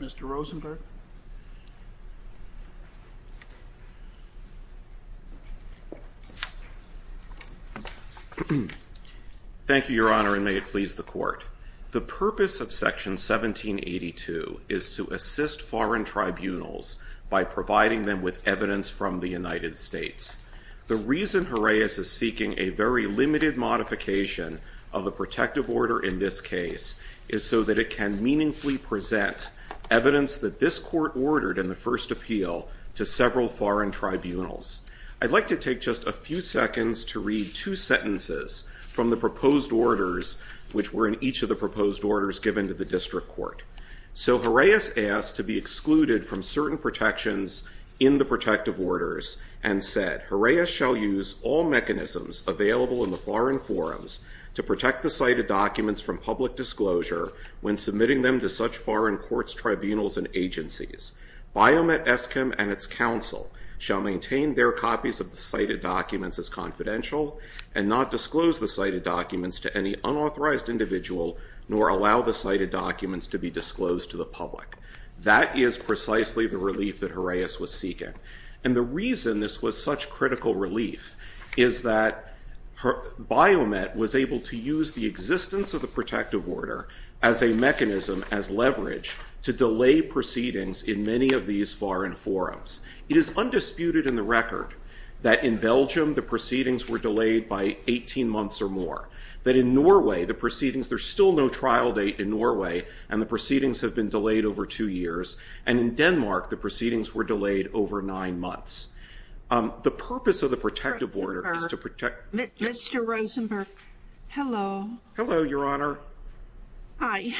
Mr. Rosenberg. Thank you, Your Honor, and may it please the Court. The purpose of Section 1782 is to assist foreign tribunals by providing them with evidence from the United States. The reason Juraeus is seeking a very limited modification of a protective order in this case is so that it can meaningfully present evidence that this Court ordered in the first appeal to several foreign tribunals. I'd like to take just a few seconds to read two sentences from the proposed orders which were in each of the proposed orders given to the District Court. So Juraeus asked to be excluded from certain protections in the protective orders and said, Juraeus shall use all mechanisms available in the foreign forums to protect the cited documents from public disclosure when submitting them to such foreign courts, tribunals, and agencies. Biomet, Eskim, and its counsel shall maintain their copies of the cited documents as confidential and not disclose the cited documents to any unauthorized individual nor allow the cited documents to be disclosed to the public. That is precisely the relief that Juraeus was seeking. And the reason this was such critical relief is that Biomet was able to use the existence of the protective order as a mechanism, as leverage, to delay proceedings in many of these foreign forums. It is undisputed in the record that in Belgium the proceedings were delayed by 18 months or more, that in Norway the proceedings, there's still no trial date in Norway, and the proceedings have been delayed over two years, and in Denmark the proceedings were delayed over nine months. The purpose of the protective order is to protect- Mr. Rosenberg, hello. Hello, Your Honor. Hi.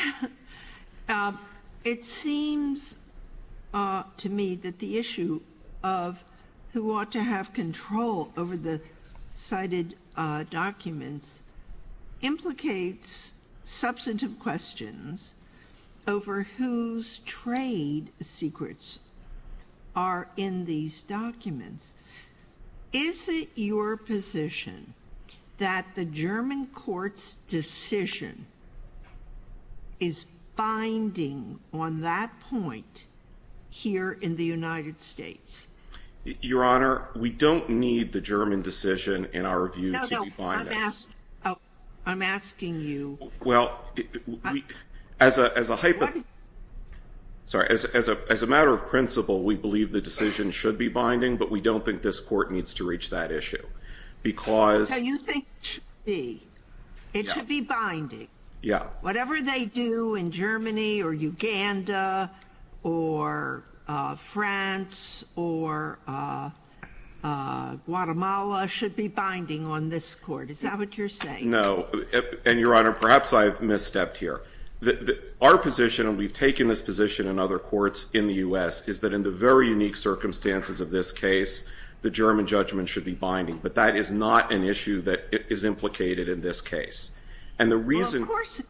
It seems to me that the issue of who ought to have control over the cited documents implicates substantive questions over whose trade secrets are in these documents. Is it your position that the German court's decision is binding on that point here in the United States? Your Honor, we don't need the German decision in our review to define that. I'm asking you- Well, as a matter of principle, we believe the decision should be binding, but we don't think this court needs to reach that issue, because- So you think it should be? It should be binding? Yeah. Yeah. Whatever they do in Germany, or Uganda, or France, or Guatemala should be binding on this court. Is that what you're saying? No. And, Your Honor, perhaps I've misstepped here. Our position, and we've taken this position in other courts in the U.S., is that in the very unique circumstances of this case, the German judgment should be binding. But that is not an issue that is implicated in this case. And the reason- Well, of course-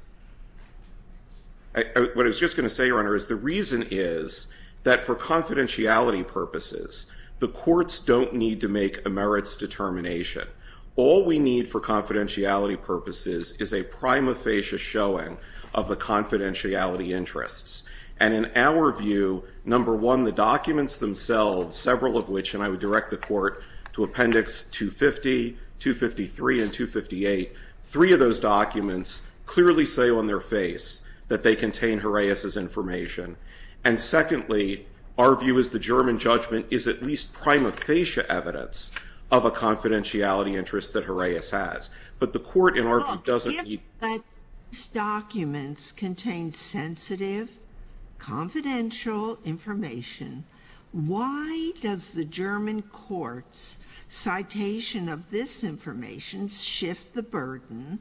What I was just going to say, Your Honor, is the reason is that for confidentiality purposes, the courts don't need to make a merits determination. All we need for confidentiality purposes is a prima facie showing of the confidentiality interests. And in our view, number one, the documents themselves, several of which, and I would direct the court to Appendix 250, 253, and 258, three of those documents clearly say on their face that they contain Horaeus' information. And secondly, our view is the German judgment is at least prima facie evidence of a confidentiality interest that Horaeus has. But the court, in our view, doesn't need- But these documents contain sensitive, confidential information. Why does the German court's citation of this information shift the burden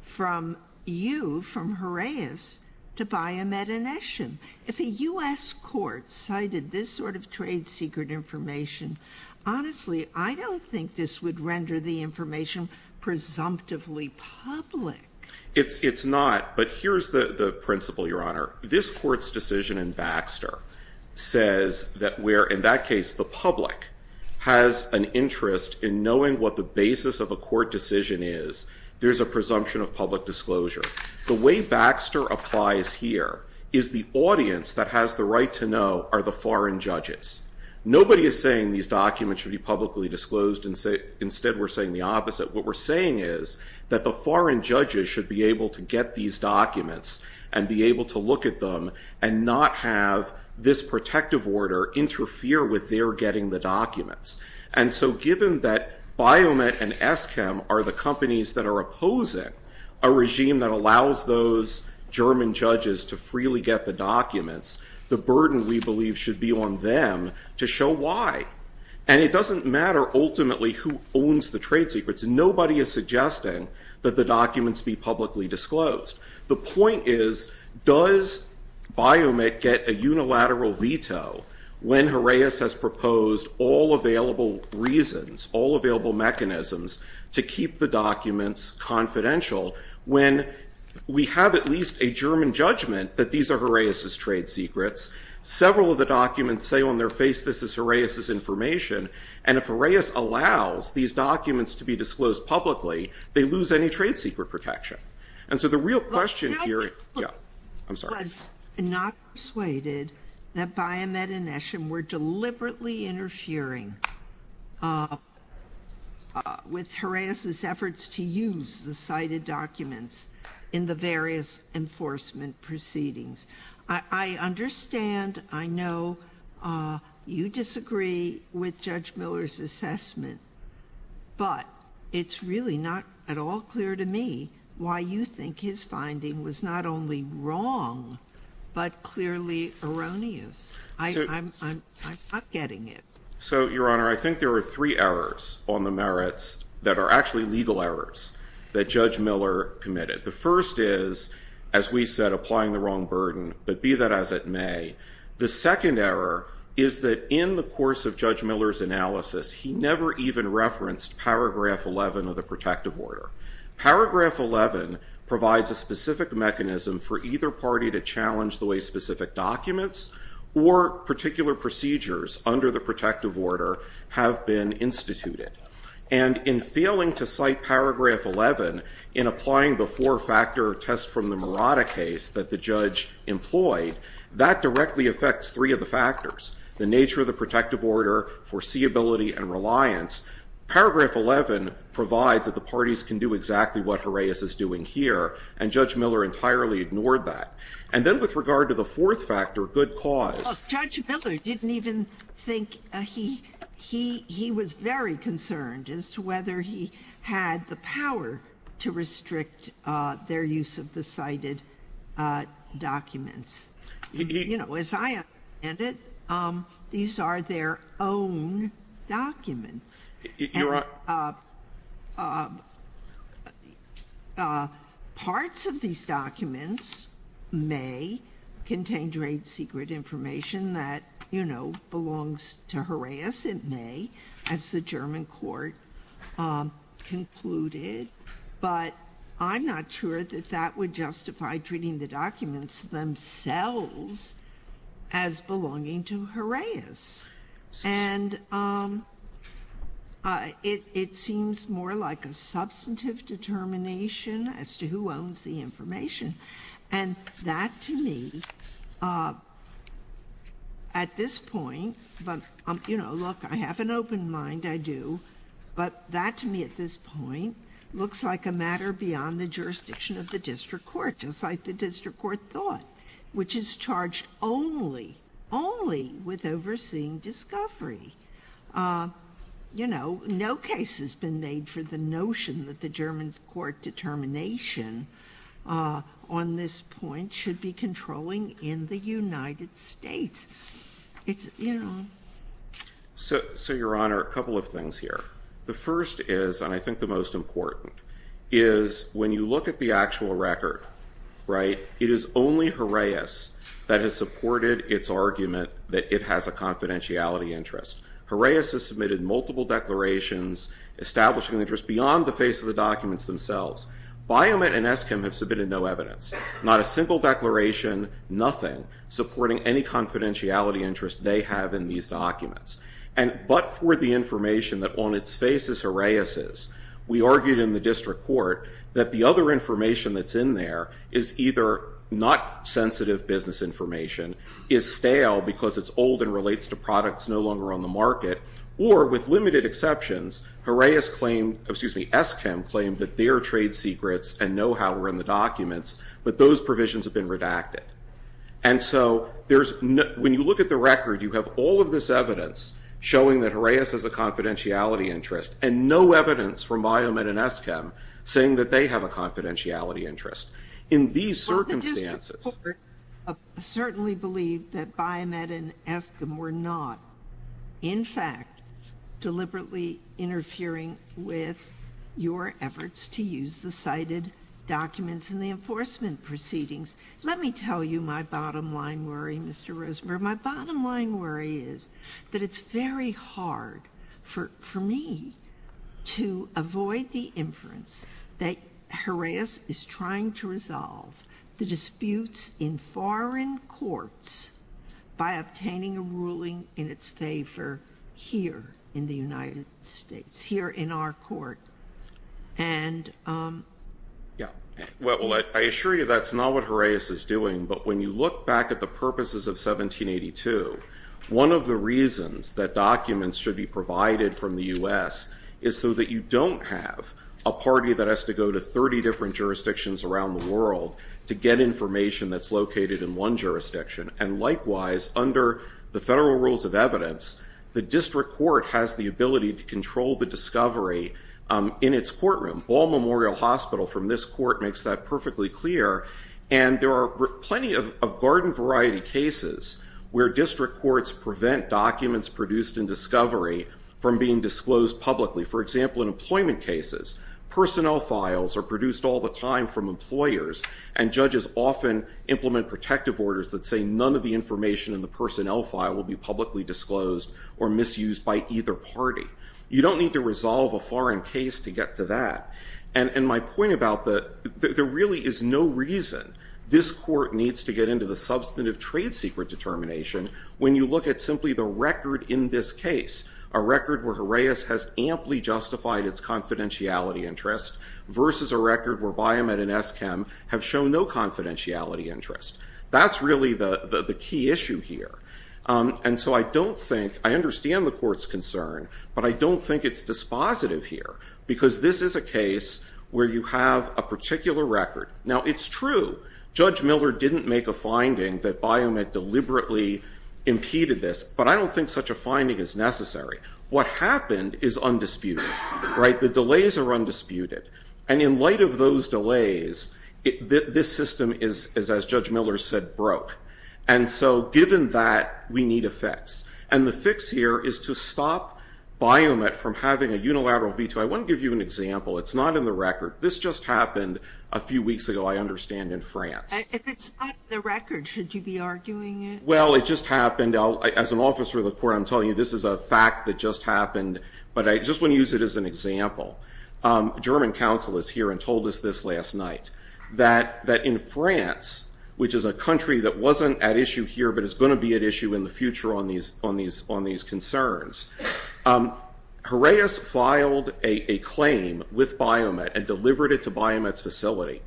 from you, from Horaeus, to Baye Metternichem? If a U.S. court cited this sort of trade secret information, honestly, I don't think this would render the information presumptively public. It's not. But here's the principle, Your Honor. This court's decision in Baxter says that where, in that case, the public has an interest in knowing what the basis of a court decision is, there's a presumption of public disclosure. The way Baxter applies here is the audience that has the right to know are the foreign judges. Nobody is saying these documents should be publicly disclosed. Instead, we're saying the opposite. What we're saying is that the foreign judges should be able to get these documents and be able to look at them and not have this protective order interfere with their getting the documents. And so given that Baye Metternichem and Eschem are the companies that are opposing a regime that allows those German judges to freely get the documents, the burden, we believe, should be on them to show why. And it doesn't matter, ultimately, who owns the trade secrets. Nobody is suggesting that the documents be publicly disclosed. The point is, does Baye Met get a unilateral veto when Horaeus has proposed all available reasons, all available mechanisms to keep the documents confidential when we have at least a German judgment that these are Horaeus's trade secrets? Several of the documents say on their face this is Horaeus's information. And if Horaeus allows these documents to be disclosed publicly, they lose any trade secret protection. And so the real question here is... I'm sorry. I was not persuaded that Baye Met and Eschem were deliberately interfering with Horaeus's efforts to use the cited documents in the various enforcement proceedings. I understand, I know you disagree with Judge Miller's assessment, but it's really not at all clear to me why you think his finding was not only wrong, but clearly erroneous. I'm not getting it. So Your Honor, I think there are three errors on the merits that are actually legal errors that Judge Miller committed. The first is, as we said, applying the wrong burden, but be that as it may. The second error is that in the course of Judge Miller's analysis, he never even referenced paragraph 11 of the protective order. Paragraph 11 provides a specific mechanism for either party to challenge the way specific documents or particular procedures under the protective order have been instituted. And in failing to cite paragraph 11 in applying the four-factor test from the Murata case that the judge employed, that directly affects three of the factors, the nature of the protective order, foreseeability, and reliance. Paragraph 11 provides that the parties can do exactly what Horaeus is doing here, and Judge Miller entirely ignored that. And then with regard to the fourth factor, good cause... Look, Judge Miller didn't even think... He was very concerned as to whether he had the power to restrict their use of the cited documents. You know, as I understand it, these are their own documents. And parts of these documents may contain great secret information that, you know, belongs to Horaeus. It may, as the German court concluded, but I'm not sure that that would justify treating the documents themselves as belonging to Horaeus. And it seems more like a substantive determination as to who owns the information. And that, to me, at this point, but, you know, look, I have an open mind, I do. But that, to me, at this point, looks like a matter beyond the jurisdiction of the district court thought, which is charged only, only with overseeing discovery. You know, no case has been made for the notion that the German court determination on this point should be controlling in the United States. It's, you know... So, Your Honor, a couple of things here. The first is, and I think the most important, is when you look at the actual record, right, it is only Horaeus that has supported its argument that it has a confidentiality interest. Horaeus has submitted multiple declarations establishing an interest beyond the face of the documents themselves. Biomet and Eskim have submitted no evidence. Not a single declaration, nothing, supporting any confidentiality interest they have in these documents. And but for the information that on its face is Horaeus's, we argued in the district court that the other information that's in there is either not sensitive business information, is stale because it's old and relates to products no longer on the market, or, with limited exceptions, Horaeus claimed, excuse me, Eskim claimed that their trade secrets and know-how were in the documents, but those provisions have been redacted. And so there's, when you look at the record, you have all of this evidence showing that they have a confidentiality interest. In these circumstances. Well, the district court certainly believed that Biomet and Eskim were not, in fact, deliberately interfering with your efforts to use the cited documents in the enforcement proceedings. Let me tell you my bottom line worry, Mr. Rosenberg. My bottom line worry is that it's very hard for me to avoid the inference that Horaeus is trying to resolve the disputes in foreign courts by obtaining a ruling in its favor here in the United States, here in our court. And yeah. Well, I assure you that's not what Horaeus is doing. But when you look back at the purposes of 1782, one of the reasons that documents should be provided from the US is so that you don't have a party that has to go to 30 different jurisdictions around the world to get information that's located in one jurisdiction. And likewise, under the federal rules of evidence, the district court has the ability to control the discovery in its courtroom. Ball Memorial Hospital, from this court, makes that perfectly clear. And there are plenty of garden variety cases where district courts prevent documents produced in discovery from being disclosed publicly. For example, in employment cases, personnel files are produced all the time from employers, and judges often implement protective orders that say none of the information in the personnel file will be publicly disclosed or misused by either party. You don't need to resolve a foreign case to get to that. And my point about that, there really is no reason this court needs to get into the substantive trade secret determination when you look at simply the record in this case. A record where Horaeus has amply justified its confidentiality interest versus a record where Biomed and ESKEM have shown no confidentiality interest. That's really the key issue here. And so I don't think, I understand the court's concern, but I don't think it's dispositive here because this is a case where you have a particular record. Now it's true, Judge Miller didn't make a finding that Biomed deliberately impeded this, but I don't think such a finding is necessary. What happened is undisputed, right? The delays are undisputed. And in light of those delays, this system is, as Judge Miller said, broke. And so given that, we need a fix. And the fix here is to stop Biomed from having a unilateral veto. I want to give you an example. It's not in the record. This just happened a few weeks ago, I understand, in France. If it's not in the record, should you be arguing it? Well, it just happened. As an officer of the court, I'm telling you this is a fact that just happened. But I just want to use it as an example. German counsel is here and told us this last night, that in France, which is a country that wasn't at issue here, but is going to be at issue in the future on these concerns, Horaeus filed a claim with Biomed and delivered it to Biomed's facility.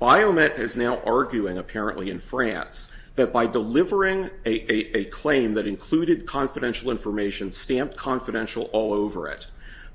Biomed is now arguing, apparently in France, that by delivering a claim that included confidential information, stamped confidential all over it,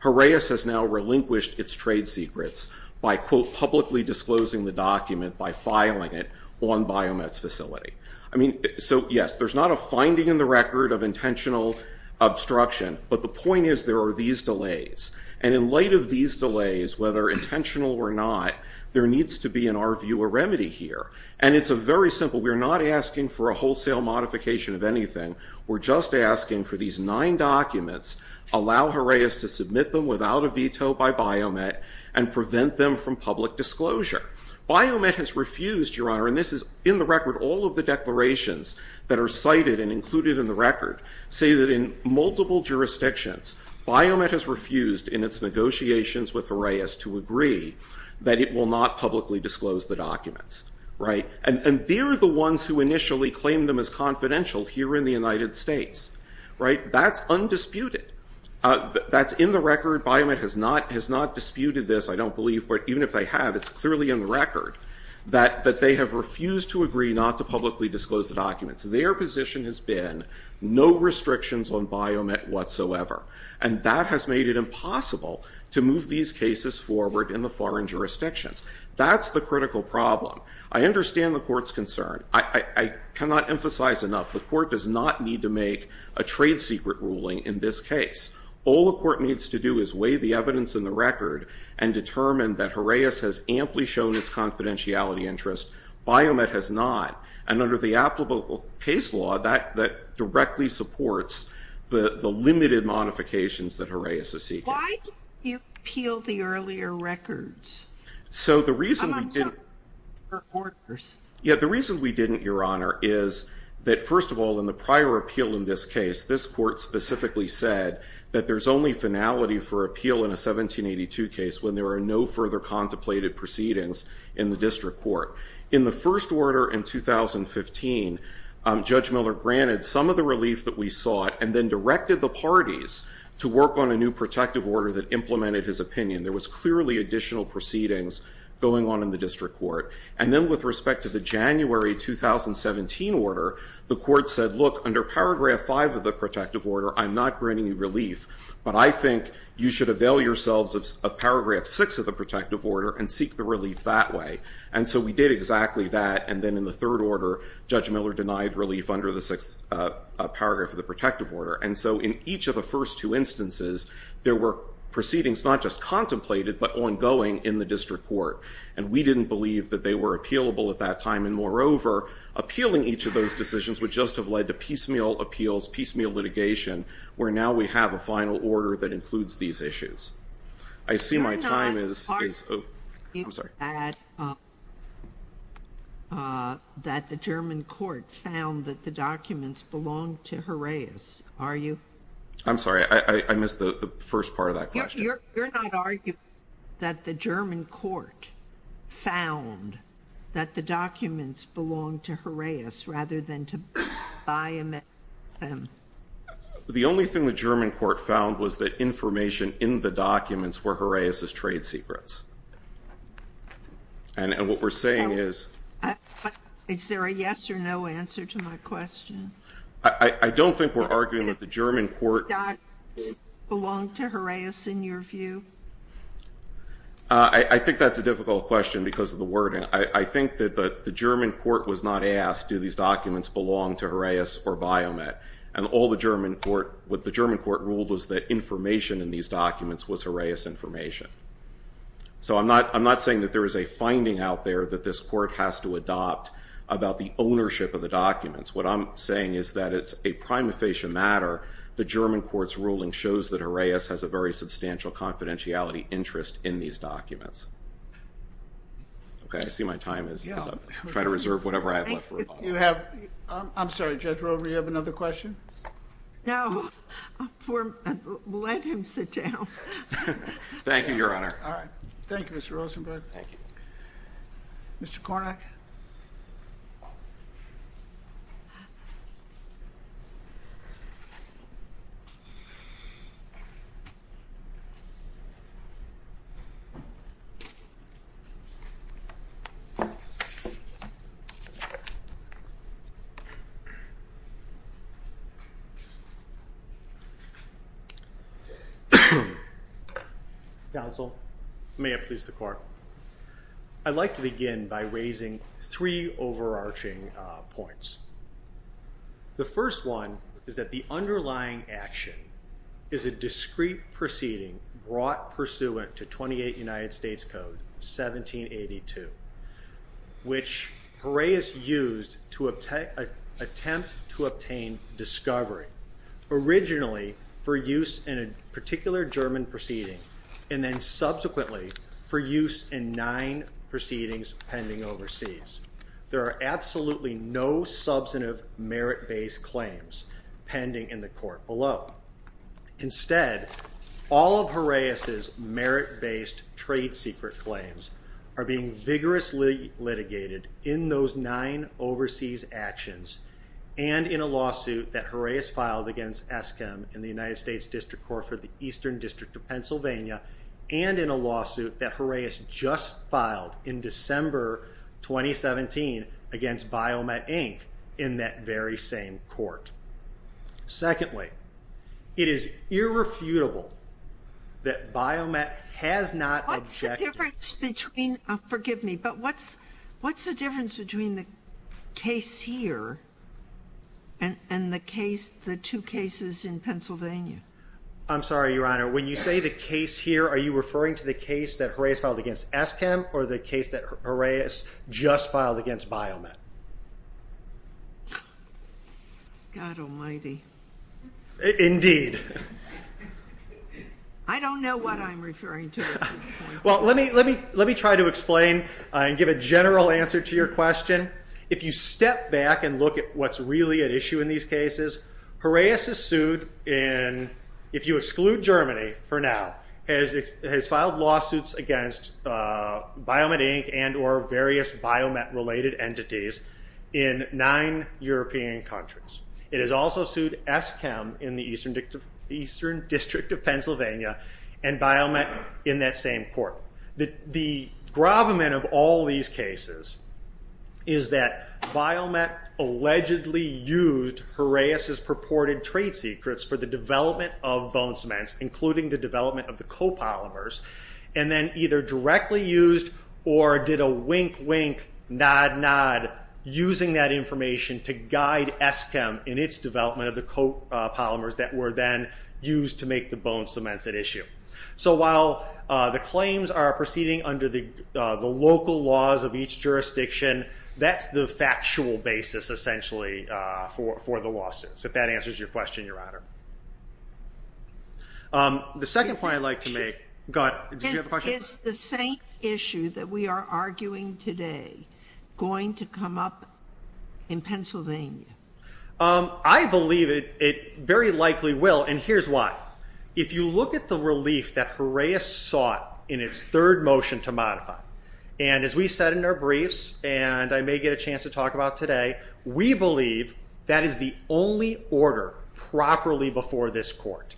Horaeus has now relinquished its trade secrets by, quote, publicly disclosing the document by filing it on Biomed's facility. I mean, so yes, there's not a finding in the record of intentional obstruction. But the point is there are these delays. And in light of these delays, whether intentional or not, there needs to be, in our view, a remedy here. And it's a very simple. We're not asking for a wholesale modification of anything. We're just asking for these nine documents, allow Horaeus to submit them without a veto by Biomed and prevent them from public disclosure. Biomed has refused, Your Honor, and this is in the record, all of the declarations that are cited and included in the record say that in multiple jurisdictions, Biomed has refused in its negotiations with Horaeus to agree that it will not publicly disclose the documents. And they're the ones who initially claimed them as confidential here in the United States. That's undisputed. That's in the record. Biomed has not disputed this, I don't believe. But even if they have, it's clearly in the record that they have refused to agree not to publicly disclose the documents. Their position has been no restrictions on Biomed whatsoever. And that has made it impossible to move these cases forward in the foreign jurisdictions. That's the critical problem. I understand the court's concern. I cannot emphasize enough, the court does not need to make a trade secret ruling in this case. All the court needs to do is weigh the evidence in the record and determine that Horaeus has amply shown its confidentiality interest, Biomed has not. And under the applicable case law, that directly supports the limited modifications that Horaeus is seeking. Why didn't you appeal the earlier records? So the reason we didn't, Your Honor, is that first of all, in the prior appeal in this case, this court specifically said that there's only finality for appeal in a 1782 case when there are no further contemplated proceedings in the district court. In the first order in 2015, Judge Miller granted some of the relief that we sought and then directed the parties to work on a new protective order that implemented his opinion. There was clearly additional proceedings going on in the district court. And then with respect to the January 2017 order, the court said, look, under paragraph five of the protective order, I'm not granting you relief. But I think you should avail yourselves of paragraph six of the protective order and seek the relief that way. And so we did exactly that. And then in the third order, Judge Miller denied relief under the sixth paragraph of the protective order. And so in each of the first two instances, there were proceedings not just contemplated, but ongoing in the district court. And we didn't believe that they were appealable at that time. And moreover, appealing each of those decisions would just have led to piecemeal appeals, piecemeal litigation, where now we have a final order that includes these issues. I see my time is, oh, I'm sorry. You're not arguing that the German court found that the documents belonged to Horaeus, are you? I'm sorry, I missed the first part of that question. You're not arguing that the German court found that the documents belonged to Horaeus, rather than to buy and sell them? The only thing the German court found was that information in the documents were Horaeus' trade secrets. And what we're saying is... Is there a yes or no answer to my question? I don't think we're arguing that the German court... I think that's a difficult question because of the wording. I think that the German court was not asked, do these documents belong to Horaeus or Biomet? And what the German court ruled was that information in these documents was Horaeus' information. So I'm not saying that there is a finding out there that this court has to adopt about the ownership of the documents. What I'm saying is that it's a prima facie matter. The German court's ruling shows that Horaeus has a very substantial confidentiality interest in these documents. Okay, I see my time is up. Try to reserve whatever I have left for a follow-up. I'm sorry, Judge Rover, you have another question? No, let him sit down. Thank you, Your Honor. All right. Thank you, Mr. Rosenberg. Thank you. Mr. Kornack? Counsel, may it please the court. I'd like to begin by raising three overarching points. The first one is that the underlying action is a discreet proceeding brought pursuant to 28 United States Code 1782, which Horaeus used to attempt to obtain discovery, originally for use in a particular German proceeding, and then subsequently for use in nine proceedings pending overseas. There are absolutely no substantive merit-based claims pending in the court below. Instead, all of Horaeus' merit-based trade secret claims are being vigorously litigated in those nine overseas actions, and in a lawsuit that Horaeus filed against ESKEM in the United States District Court for the Eastern District of Pennsylvania, and in a lawsuit that Horaeus just filed in December 2017 against BioMet, Inc., in that very same court. Secondly, it is irrefutable that BioMet has not objected. What's the difference between, forgive me, but what's the difference between the case here and the two cases in Pennsylvania? I'm sorry, Your Honor. When you say the case here, are you referring to the case that Horaeus filed against ESKEM or the case that Horaeus just filed against BioMet? God Almighty. Indeed. I don't know what I'm referring to at this point. Well, let me try to explain and give a general answer to your question. If you step back and look at what's really at issue in these cases, Horaeus is sued in, if you exclude Germany for now, has filed lawsuits against BioMet, Inc. and or various BioMet related entities in nine European countries. It has also sued ESKEM in the Eastern District of Pennsylvania and BioMet in that same court. The gravamen of all these cases is that BioMet allegedly used Horaeus's purported trade secrets for the development of bone cements, including the development of the copolymers, and then either directly used or did a wink, wink, nod, nod, using that information to guide ESKEM in its development of the copolymers that were then used to make the bone cements at issue. So while the claims are proceeding under the local laws of each jurisdiction, that's the factual basis essentially for the lawsuits. If that answers your question, Your Honor. The second point I'd like to make, God, did you have a question? Is the same issue that we are arguing today going to come up in Pennsylvania? I believe it very likely will, and here's why. If you look at the relief that Horaeus sought in its third motion to modify, and as we said in our briefs, and I may get a chance to talk about today, we believe that is the only order properly before this court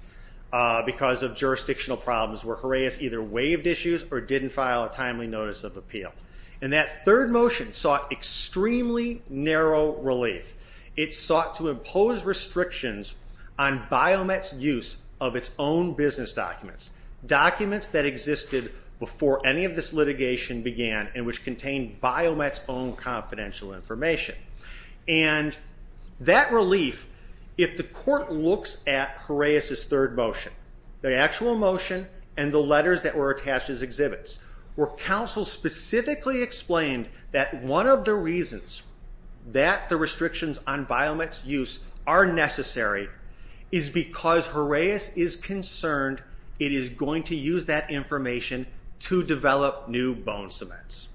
because of jurisdictional problems where Horaeus either waived issues or didn't file a timely notice of appeal. And that third motion sought extremely narrow relief. It sought to impose restrictions on BioMet's use of its own business documents, documents that existed before any of this litigation began and which contained BioMet's own confidential information. And that relief, if the court looks at Horaeus' third motion, the actual motion and the letters that were attached as exhibits, where counsel specifically explained that one of the reasons that the restrictions on BioMet's use are necessary is because Horaeus is concerned it is going to use that information to develop new bone cements.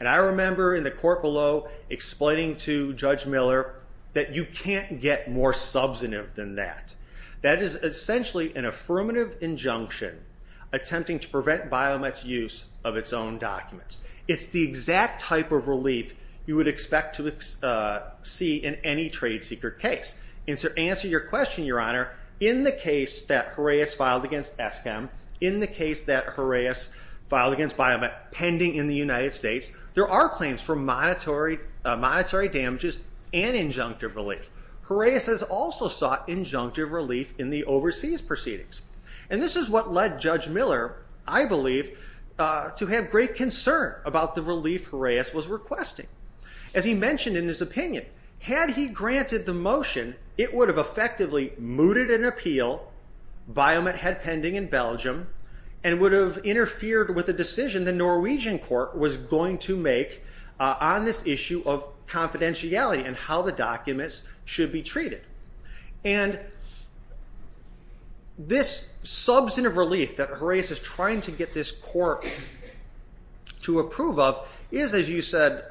And I remember in the court below explaining to Judge Miller that you can't get more substantive than that. That is essentially an affirmative injunction attempting to prevent BioMet's use of its own documents. It's the exact type of relief you would expect to see in any trade secret case. And to answer your question, Your Honor, in the case that Horaeus filed against ESCM, in the case that Horaeus filed against BioMet pending in the United States, there are claims for monetary damages and injunctive relief. Horaeus has also sought injunctive relief in the overseas proceedings. And this is what led Judge Miller, I believe, to have great concern about the relief Horaeus was requesting. As he mentioned in his opinion, had he granted the motion, it would have effectively mooted an appeal BioMet had pending in Belgium and would have interfered with a decision the Norwegian court was going to make on this issue of confidentiality and how the documents should be treated. And this substantive relief that Horaeus is trying to get this court to approve of is, as you said,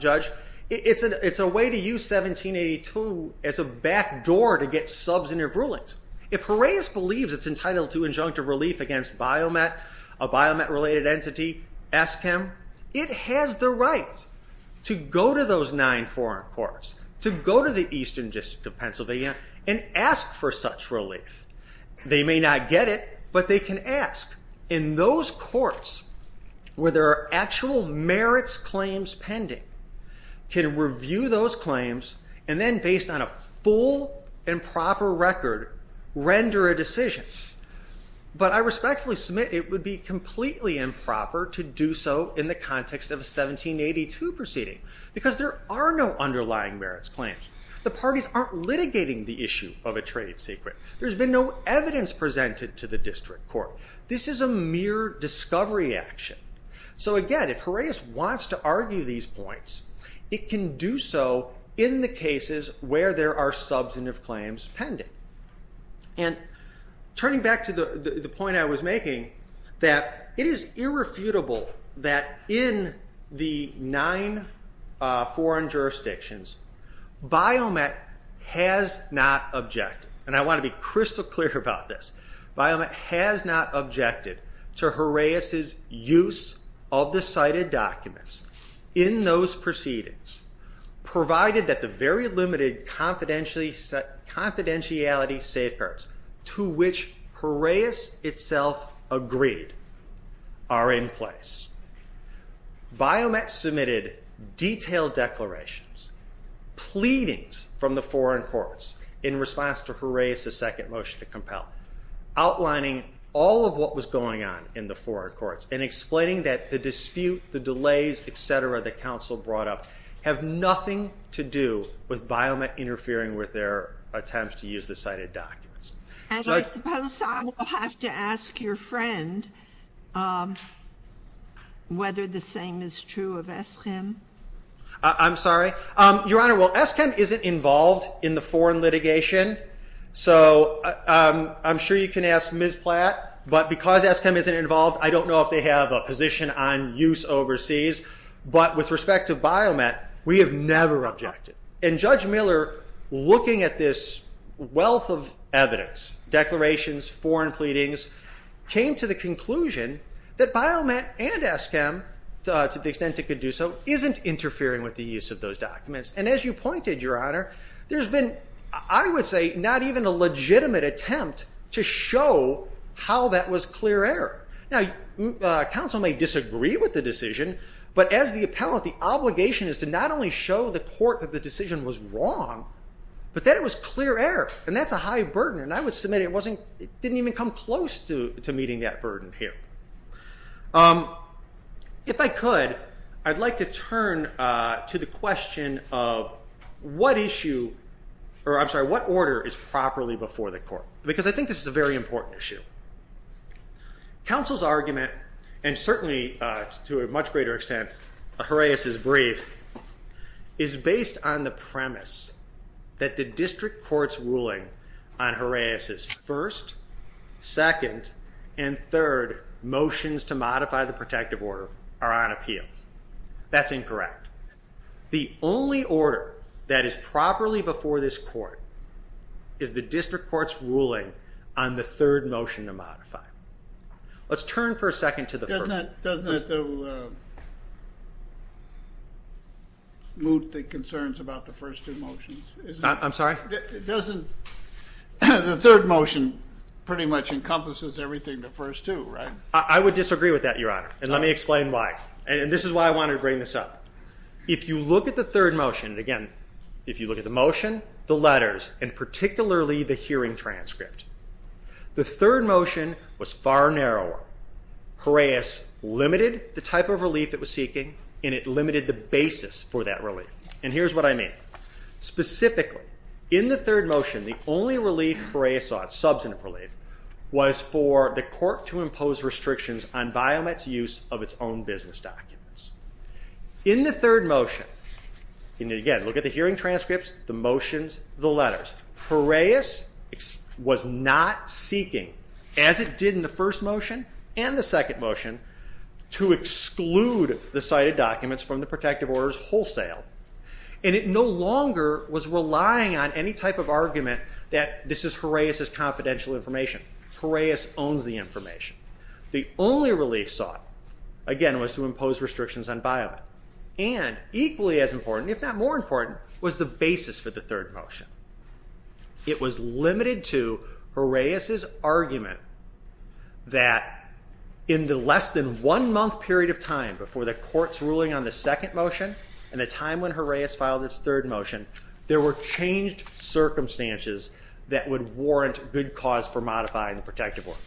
Judge, it's a way to use 1782 as a backdoor to get substantive rulings. If Horaeus believes it's entitled to injunctive relief against BioMet, a BioMet-related entity, ESCM, it has the right to go to those nine foreign courts, to go to the Eastern District of Pennsylvania and ask for such relief. They may not get it, but they can ask. And those courts where there are actual merits claims pending can review those claims and then based on a full and proper record render a decision. But I respectfully submit it would be completely improper to do so in the context of a 1782 proceeding because there are no underlying merits claims. The parties aren't litigating the issue of a trade secret. There's been no evidence presented to the district court. This is a mere discovery action. So again, if Horaeus wants to argue these points, it can do so in the cases where there are substantive claims pending. And turning back to the point I was making, that it is irrefutable that in the nine foreign jurisdictions, BioMet has not objected. And I want to be crystal clear about this. BioMet has not objected to Horaeus' use of the cited documents in those proceedings, provided that the very limited confidentiality safeguards to which Horaeus itself agreed are in place. BioMet submitted detailed declarations, pleadings from the foreign courts in response to Horaeus' second motion to compel. Outlining all of what was going on in the foreign courts and explaining that the dispute, the delays, et cetera, that counsel brought up have nothing to do with BioMet interfering with their attempts to use the cited documents. And I suppose I will have to ask your friend whether the same is true of Eskim. I'm sorry? Your Honor, well, Eskim isn't involved in the foreign litigation. So I'm sure you can ask Ms. Platt, but because Eskim isn't involved, I don't know if they have a position on use overseas. But with respect to BioMet, we have never objected. And Judge Miller, looking at this wealth of evidence, declarations, foreign pleadings, came to the conclusion that BioMet and Eskim, to the extent it could do so, isn't interfering with the use of those documents. And as you pointed, Your Honor, there's been, I would say, not even a legitimate attempt to show how that was clear error. Now, counsel may disagree with the decision, but as the appellant, the obligation is to not only show the court that the decision was wrong, but that it was clear error, and that's a high burden. And I would submit it didn't even come close to meeting that burden here. If I could, I'd like to turn to the question of what issue, or I'm sorry, what order is properly before the court? Because I think this is a very important issue. Counsel's argument, and certainly to a much greater extent, a Horaeus' brief, is based on the premise that the district court's ruling on Horaeus' first, second, and third motions to modify the protective order are on appeal. That's incorrect. The only order that is properly before this court is the district court's ruling on the third motion to modify. Let's turn for a second to the first. Doesn't that move the concerns about the first two motions? I'm sorry? The third motion pretty much encompasses everything the first two, right? I would disagree with that, Your Honor, and let me explain why. And this is why I wanted to bring this up. If you look at the third motion, again, if you look at the motion, the letters, and particularly the hearing transcript, the third motion was far narrower. Horaeus limited the type of relief it was seeking, and it limited the basis for that relief. And here's what I mean. Specifically, in the third motion, the only relief Horaeus sought, substantive relief, was for the court to impose restrictions on Biomet's use of its own business documents. In the third motion, and again, look at the hearing transcripts, the motions, the letters, Horaeus was not seeking, as it did in the first motion and the second motion, to exclude the cited documents from the protective orders wholesale. And it no longer was relying on any type of argument that this is Horaeus's confidential information. Horaeus owns the information. The only relief sought, again, was to impose restrictions on Biomet. And equally as important, if not more important, was the basis for the third motion. It was limited to Horaeus's argument that in the less than one month period of time before the court's ruling on the second motion and the time when Horaeus filed its third motion, there were changed circumstances that would warrant good cause for modifying the protective order.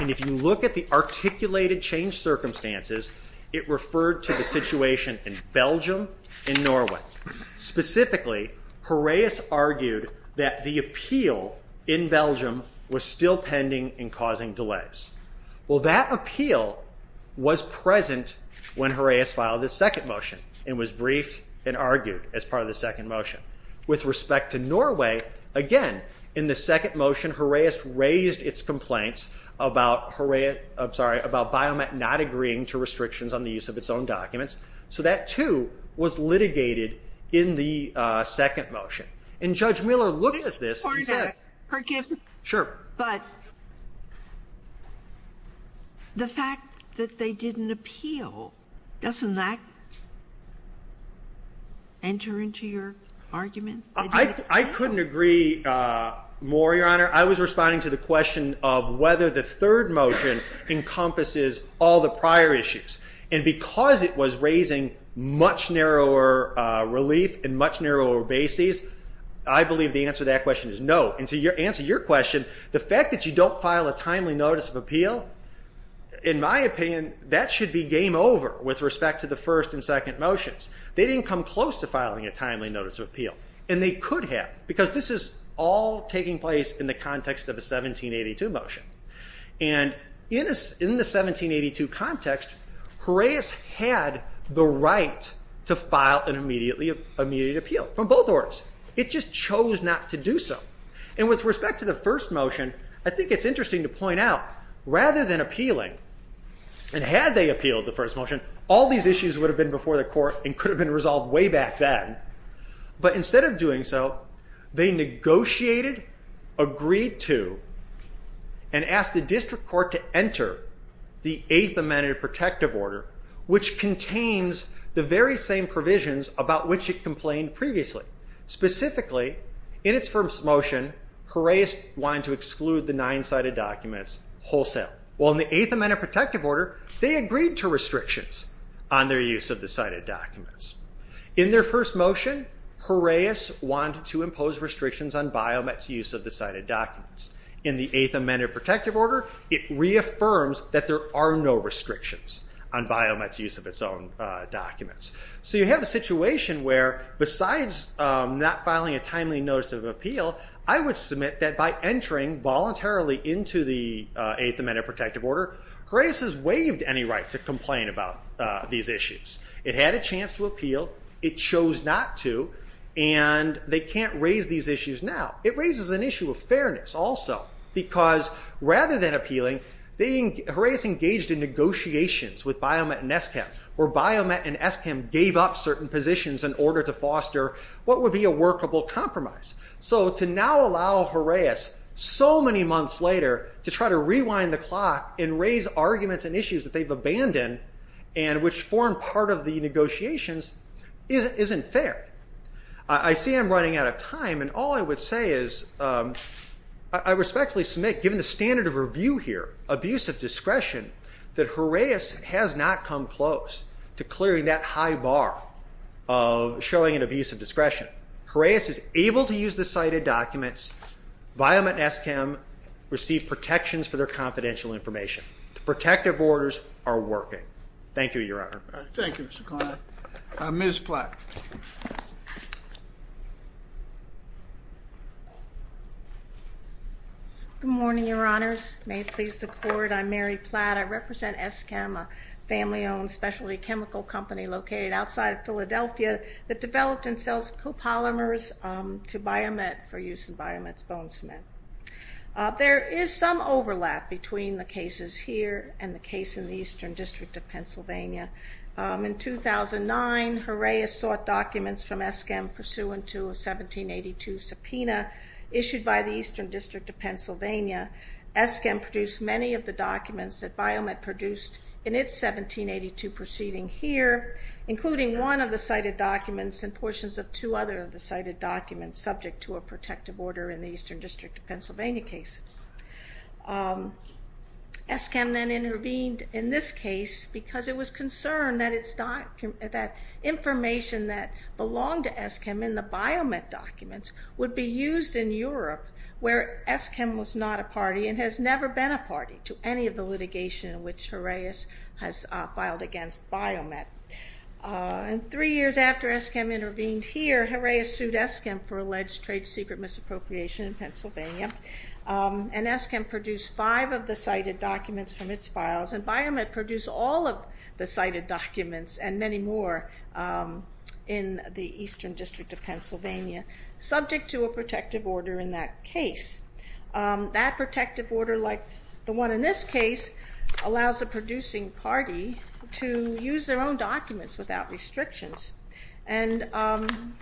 And if you look at the articulated changed circumstances, it referred to the situation in Belgium and Norway. Specifically, Horaeus argued that the appeal in Belgium was still pending and causing delays. Well, that appeal was present when Horaeus filed his second motion and was briefed and argued as part of the second motion. With respect to Norway, again, in the second motion, Horaeus raised its complaints about Biomet not agreeing to restrictions on the use of its own documents. So that, too, was litigated in the second motion. And Judge Miller looked at this and said, Sure. But the fact that they didn't appeal, doesn't that enter into your argument? I couldn't agree more, Your Honor. I was responding to the question of whether the third motion encompasses all the prior issues. And because it was raising much narrower relief and much narrower bases, I believe the answer to that question is no. And to answer your question, the fact that you don't file a timely notice of appeal, in my opinion, that should be game over with respect to the first and second motions. They didn't come close to filing a timely notice of appeal. And they could have, because this is all taking place in the context of a 1782 motion. And in the 1782 context, Horaeus had the right to file an immediate appeal from both orders. It just chose not to do so. And with respect to the first motion, I think it's interesting to point out, rather than appealing, and had they appealed the first motion, all these issues would have been before the court and could have been resolved way back then. But instead of doing so, they negotiated, agreed to, and asked the district court to enter the Eighth Amendment of Protective Order, which contains the very same provisions about which it complained previously. Specifically, in its first motion, Horaeus wanted to exclude the nine cited documents wholesale. Well, in the Eighth Amendment of Protective Order, they agreed to restrictions on their use of the cited documents. In their first motion, Horaeus wanted to impose restrictions on BioMet's use of the cited documents. In the Eighth Amendment of Protective Order, it reaffirms that there are no restrictions on BioMet's use of its own documents. So you have a situation where, besides not filing a timely notice of appeal, I would submit that by entering voluntarily into the Eighth Amendment of Protective Order, Horaeus has waived any right to complain about these issues. It had a chance to appeal, it chose not to, and they can't raise these issues now. It raises an issue of fairness also, because rather than appealing, Horaeus engaged in negotiations with BioMet and SCAM, where BioMet and SCAM gave up certain positions in order to foster what would be a workable compromise. So to now allow Horaeus, so many months later, to try to rewind the clock and raise arguments and issues that they've abandoned, and which form part of the negotiations, isn't fair. I see I'm running out of time, and all I would say is, I respectfully submit, given the standard of review here, abuse of discretion, that Horaeus has not come close to clearing that high bar of showing an abuse of discretion. Horaeus is able to use the cited documents, BioMet and SCAM receive protections for their confidential information. The protective orders are working. Thank you, Your Honor. Thank you, Mr. Kline. Ms. Platt. Good morning, Your Honors. May it please the Court, I'm Mary Platt. I represent SCAM, a family-owned specialty chemical company located outside of Philadelphia that developed and sells copolymers to BioMet for use in BioMet's bone cement. There is some overlap between the cases here and the case in the Eastern District of Pennsylvania. In 2009, Horaeus sought documents from SCAM pursuant to a 1782 subpoena issued by the Eastern District of Pennsylvania. SCAM produced many of the documents that BioMet produced in its 1782 proceeding here, including one of the cited documents and portions of two other of the cited documents subject to a protective order in the Eastern District of Pennsylvania case. SCAM then intervened in this case because it was concerned that information that belonged to SCAM in the BioMet documents would be used in Europe where SCAM was not a party and has never been a party to any of the litigation in which Horaeus has filed against BioMet. Three years after SCAM intervened here, Horaeus sued SCAM for alleged trade secret misappropriation in Pennsylvania. And SCAM produced five of the cited documents from its files. And BioMet produced all of the cited documents and many more in the Eastern District of Pennsylvania subject to a protective order in that case. That protective order, like the one in this case, allows the producing party to use their own documents without restrictions. And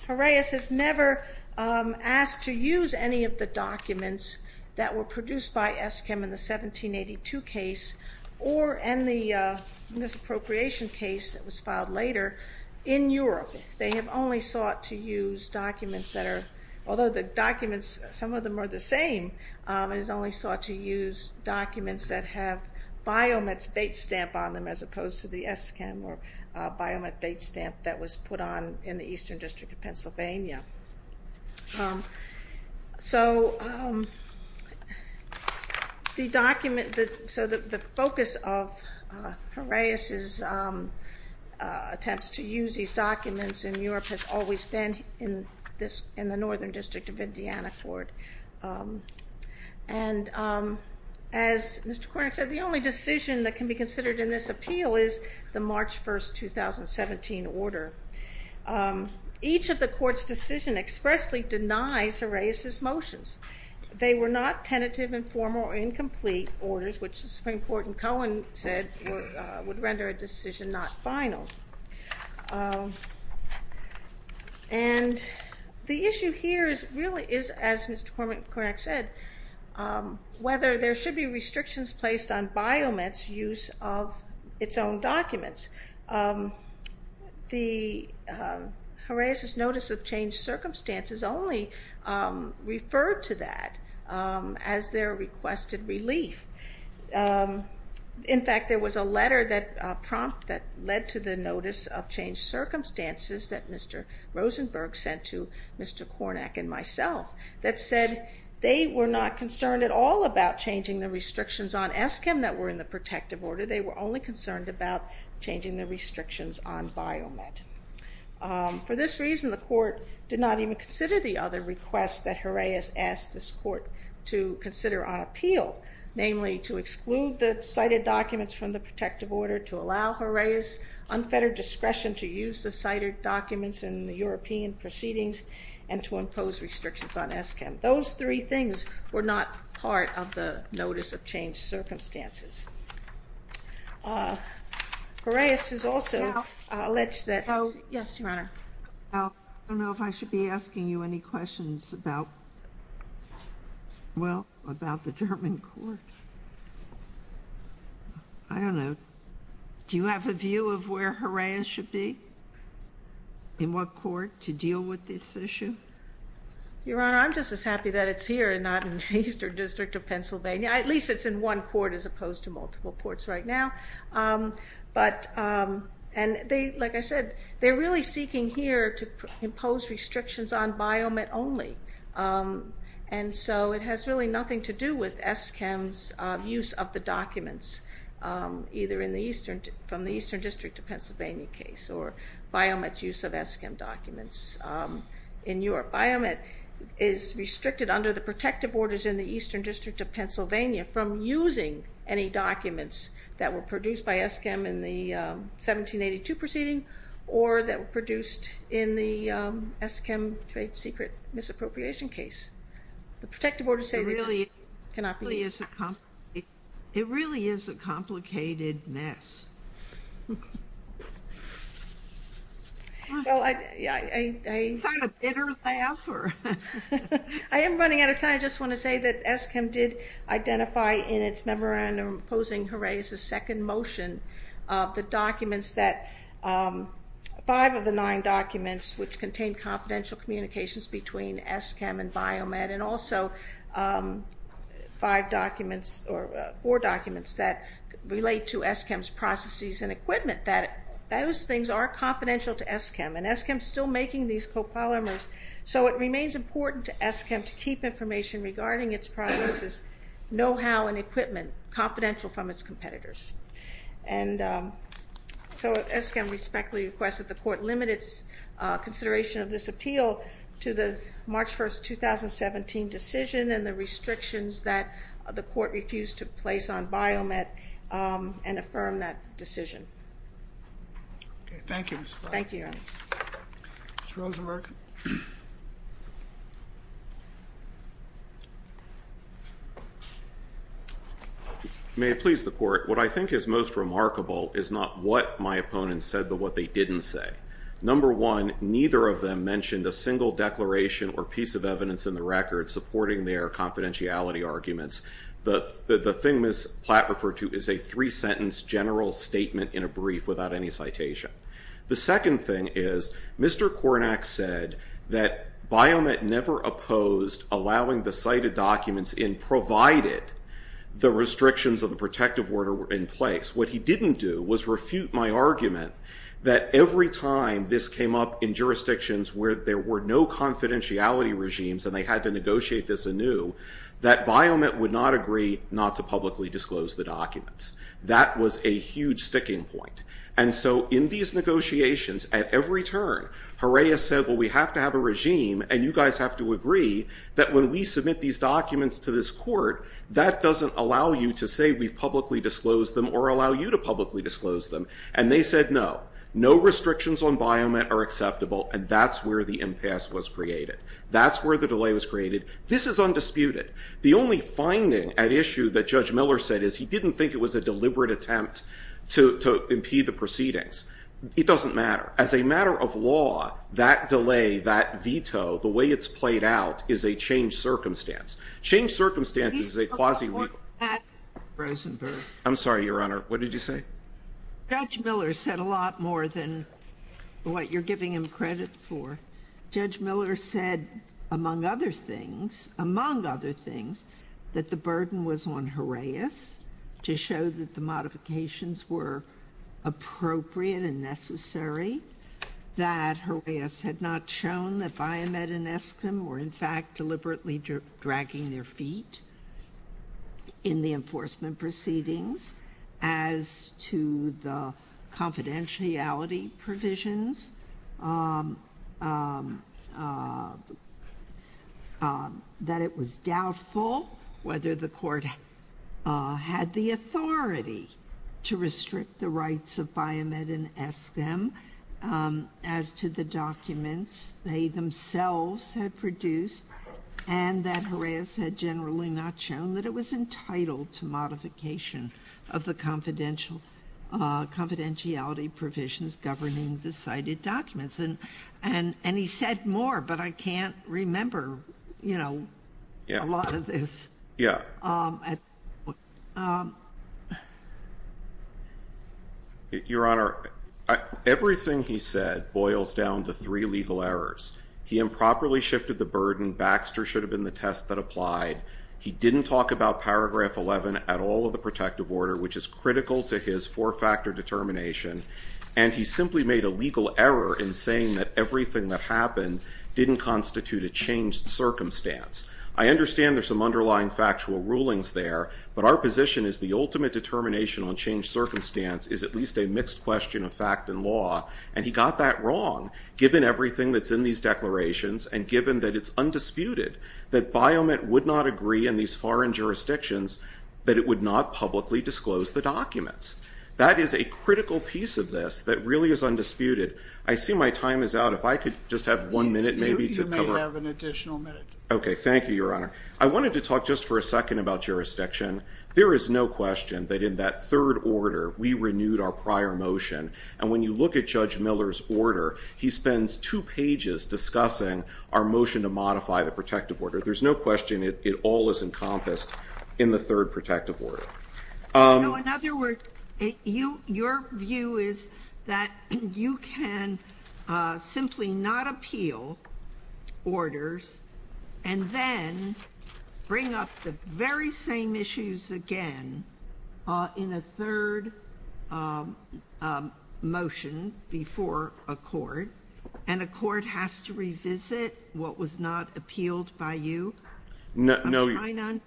Horaeus has never asked to use any of the documents that were produced by SCAM in the 1782 case or in the misappropriation case that was filed later in Europe. They have only sought to use documents that are, although the documents, some of them are the same, it is only sought to use documents that have BioMet's bait stamp on them as opposed to the SCAM or BioMet bait stamp that was put on in the Eastern District of Pennsylvania. So the document, so the focus of Horaeus's attempts to use these documents in Europe has always been in this, in the Northern District of Indianaport. And as Mr. Kornick said, the only decision that can be considered in this appeal is the March 1st, 2017 order. Each of the court's decision expressly denies Horaeus's motions. They were not tentative, informal, or incomplete orders, which the Supreme Court in Cohen said would render a decision not final. And the issue here is really, as Mr. Kornick said, whether there should be restrictions placed on BioMet's use of its own documents. The Horaeus's notice of changed circumstances only referred to that as their requested relief. In fact, there was a letter that prompt, that led to the notice of changed circumstances that Mr. Rosenberg sent to Mr. Kornick and myself that said they were not concerned at all about changing the restrictions on SCAM that were in the protective order. They were only concerned about changing the restrictions on BioMet. For this reason, the court did not even consider the other requests that Horaeus asked this court to consider on appeal, namely to exclude the cited documents from the protective order, to allow Horaeus unfettered discretion to use the cited documents in the European proceedings, and to impose restrictions on SCAM. Those three things were not part of the notice of changed circumstances. Horaeus has also alleged that... Yes, Your Honor. I don't know if I should be asking you any questions about, well, about the German court. I don't know. Do you have a view of where Horaeus should be, in what court, to deal with this issue? Your Honor, I'm just as happy that it's here and not in the Eastern District of Pennsylvania. At least it's in one court as opposed to multiple courts right now. But, and they, like I said, they're really seeking here to impose restrictions on BioMet only. And so it has really nothing to do with SCAM's use of the documents, either in the Eastern, from the Eastern District of Pennsylvania case, or BioMet's use of SCAM documents in Europe. BioMet is restricted under the protective orders in the Eastern District of Pennsylvania from using any documents that were produced by SCAM in the 1782 proceeding, or that were produced in the SCAM trade secret misappropriation case. The protective orders say that this cannot be used. It really is a complicated mess. Well, I... Is that a bitter laugh, or? I am running out of time. I just want to say that SCAM did identify in its memorandum opposing Horaeus' second motion, the documents that, five of the nine documents which contain confidential communications between SCAM and BioMet, and also five documents, or four documents that relate to SCAM's processes and equipment, that those things are confidential to SCAM. And SCAM's still making these copolymers. So it remains important to SCAM to keep information regarding its processes, know-how, and equipment confidential from its competitors. And so SCAM respectfully requests that the court limit its consideration of this appeal to the March 1st, 2017 decision, and the restrictions that the court refused to place on BioMet, and affirm that decision. Okay. Thank you, Ms. Clark. Thank you, Your Honor. Mr. Rosenberg. May it please the court. What I think is most remarkable is not what my opponents said, but what they didn't say. Number one, neither of them mentioned a single declaration or piece of evidence in the record supporting their confidentiality arguments. The thing Ms. Platt referred to is a three-sentence general statement in a brief without any citation. The second thing is, Mr. Kornack said that BioMet never opposed allowing the cited documents in provided the restrictions of the protective order were in place. What he didn't do was refute my argument that every time this came up in jurisdictions where there were no confidentiality regimes, and they had to negotiate this anew, that BioMet would not agree not to publicly disclose the documents. That was a huge sticking point. And so, in these negotiations, at every turn, Horea said, well, we have to have a regime, and you guys have to agree that when we submit these documents to this court, that doesn't allow you to say we've publicly disclosed them, or allow you to publicly disclose them. And they said, no. No restrictions on BioMet are acceptable, and that's where the impasse was created. That's where the delay was created. This is undisputed. The only finding at issue that Judge Miller said is he didn't think it was a deliberate attempt to impede the proceedings. It doesn't matter. As a matter of law, that delay, that veto, the way it's played out is a changed circumstance. Changed circumstances is a quasi- I'm sorry, Your Honor. What did you say? Judge Miller said a lot more than what you're giving him credit for. Judge Miller said, among other things, among other things, that the burden was on Horeas to show that the modifications were appropriate and necessary, that Horeas had not shown that BioMet and Eskim were, in fact, deliberately dragging their feet in the enforcement proceedings, as to the confidentiality provisions, that it was doubtful whether the court had the authority to restrict the rights of BioMet and Eskim, as to the documents they themselves had produced, and that Horeas had generally not shown that it was entitled to modification of the confidentiality provisions governing the cited documents. And he said more, but I can't remember, you know, a lot of this. Yeah. Your Honor, everything he said boils down to three legal errors. He improperly shifted the burden. Baxter should have been the test that applied. He didn't talk about Paragraph 11 at all of the protective order, which is critical to his four-factor determination, and he simply made a legal error in saying that everything that happened didn't constitute a changed circumstance. I understand there's some underlying factual rulings there, but our position is the ultimate determination on changed circumstance is at least a mixed question of fact and law, and he got that wrong, given everything that's in these declarations, and given that it's undisputed that BioMet would not agree in these foreign jurisdictions that it would not publicly disclose the documents. That is a critical piece of this that really is undisputed. I see my time is out. If I could just have one minute maybe to cover. You may have an additional minute. Okay. Thank you, Your Honor. I wanted to talk just for a second about jurisdiction. There is no question that in that third order, we renewed our prior motion, and when you look at Judge Miller's order, he spends two pages discussing our motion to modify the protective order. There's no question it all is encompassed in the third protective order. You know, in other words, your view is that you can simply not appeal orders and then bring up the very same issues again in a third motion before a court, and a court has to revisit what was not appealed by you? No.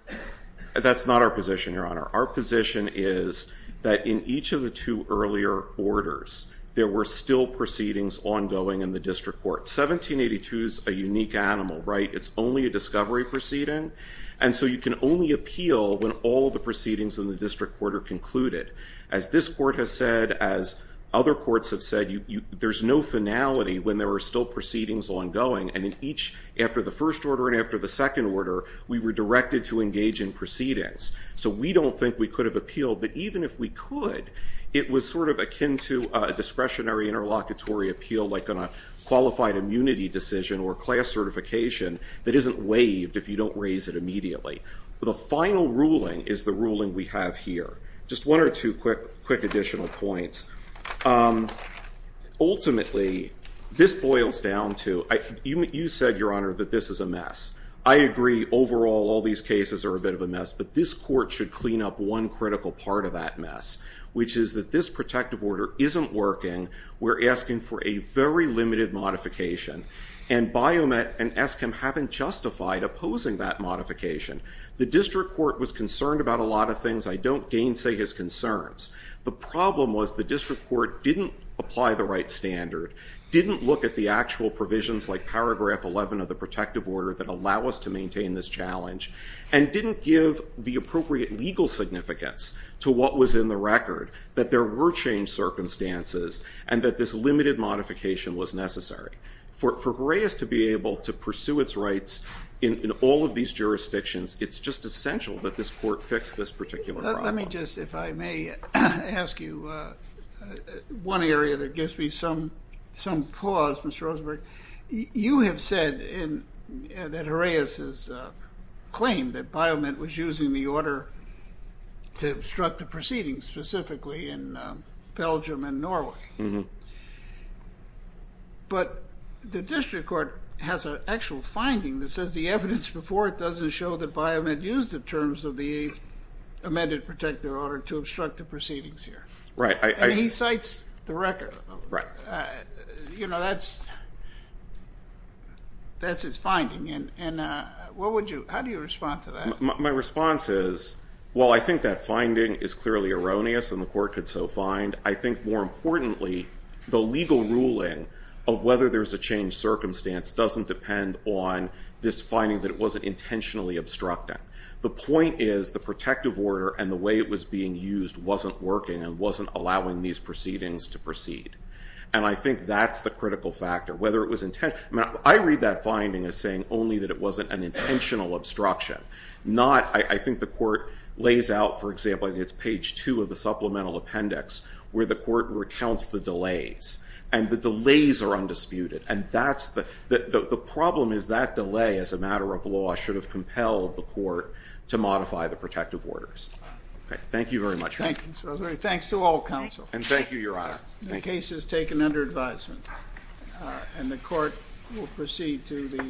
That's not our position, Your Honor. Our position is that in each of the two earlier orders, there were still proceedings ongoing in the district court. 1782 is a unique animal, right? It's only a discovery proceeding, and so you can only appeal when all the proceedings in the district court are concluded. As this court has said, as other courts have said, there's no finality when there are still proceedings ongoing, and in each, after the first order and after the second order, we were directed to engage in proceedings. So we don't think we could have appealed, but even if we could, it was sort of akin to a discretionary interlocutory appeal like on a qualified immunity decision or class certification that isn't waived if you don't raise it immediately. The final ruling is the ruling we have here. Just one or two quick additional points. Ultimately, this boils down to, you said, Your Honor, that this is a mess. I agree, overall, all these cases are a bit of a mess, but this court should clean up one critical part of that mess, which is that this protective order isn't working. We're asking for a very limited modification, and Biomet and ESCM haven't justified opposing that modification. The district court was concerned about a lot of things. I don't gainsay his concerns. The problem was the district court didn't apply the right standard, didn't look at the actual provisions like paragraph 11 of the protective order that allow us to maintain this challenge, and didn't give the appropriate legal significance to what was in the record, that there were changed circumstances, and that this limited modification was necessary. For Gray's to be able to pursue its rights in all of these jurisdictions, it's just essential that this court fix this particular problem. Let me just, if I may ask you, one area that gives me some pause, Mr. Rosenberg. You have said that Horaeus' claim that Biomet was using the order to obstruct the proceedings specifically in Belgium and Norway. But the district court has an actual finding that says the evidence before it doesn't show that Biomet used the terms of the amended protective order to obstruct the proceedings here. Right. And he cites the record. Right. You know, that's his finding. And what would you, how do you respond to that? My response is, well, I think that finding is clearly erroneous, and the court could so find. I think more importantly, the legal ruling of whether there's a changed circumstance doesn't depend on this finding that it wasn't intentionally obstructing. The point is, the protective order and the way it was being used wasn't working and wasn't allowing these proceedings to proceed. And I think that's the critical factor. Whether it was intent, I mean, I read that finding as saying only that it wasn't an intentional obstruction. Not, I think the court lays out, for example, I think it's page two of the supplemental appendix where the court recounts the delays, and the delays are undisputed. And that's the, the problem is that delay, as a matter of law, should have compelled the court to modify the protective orders. Okay. Thank you very much. Thank you, Mr. O'Leary. Thanks to all counsel. And thank you, Your Honor. The case is taken under advisement, and the court will proceed to the.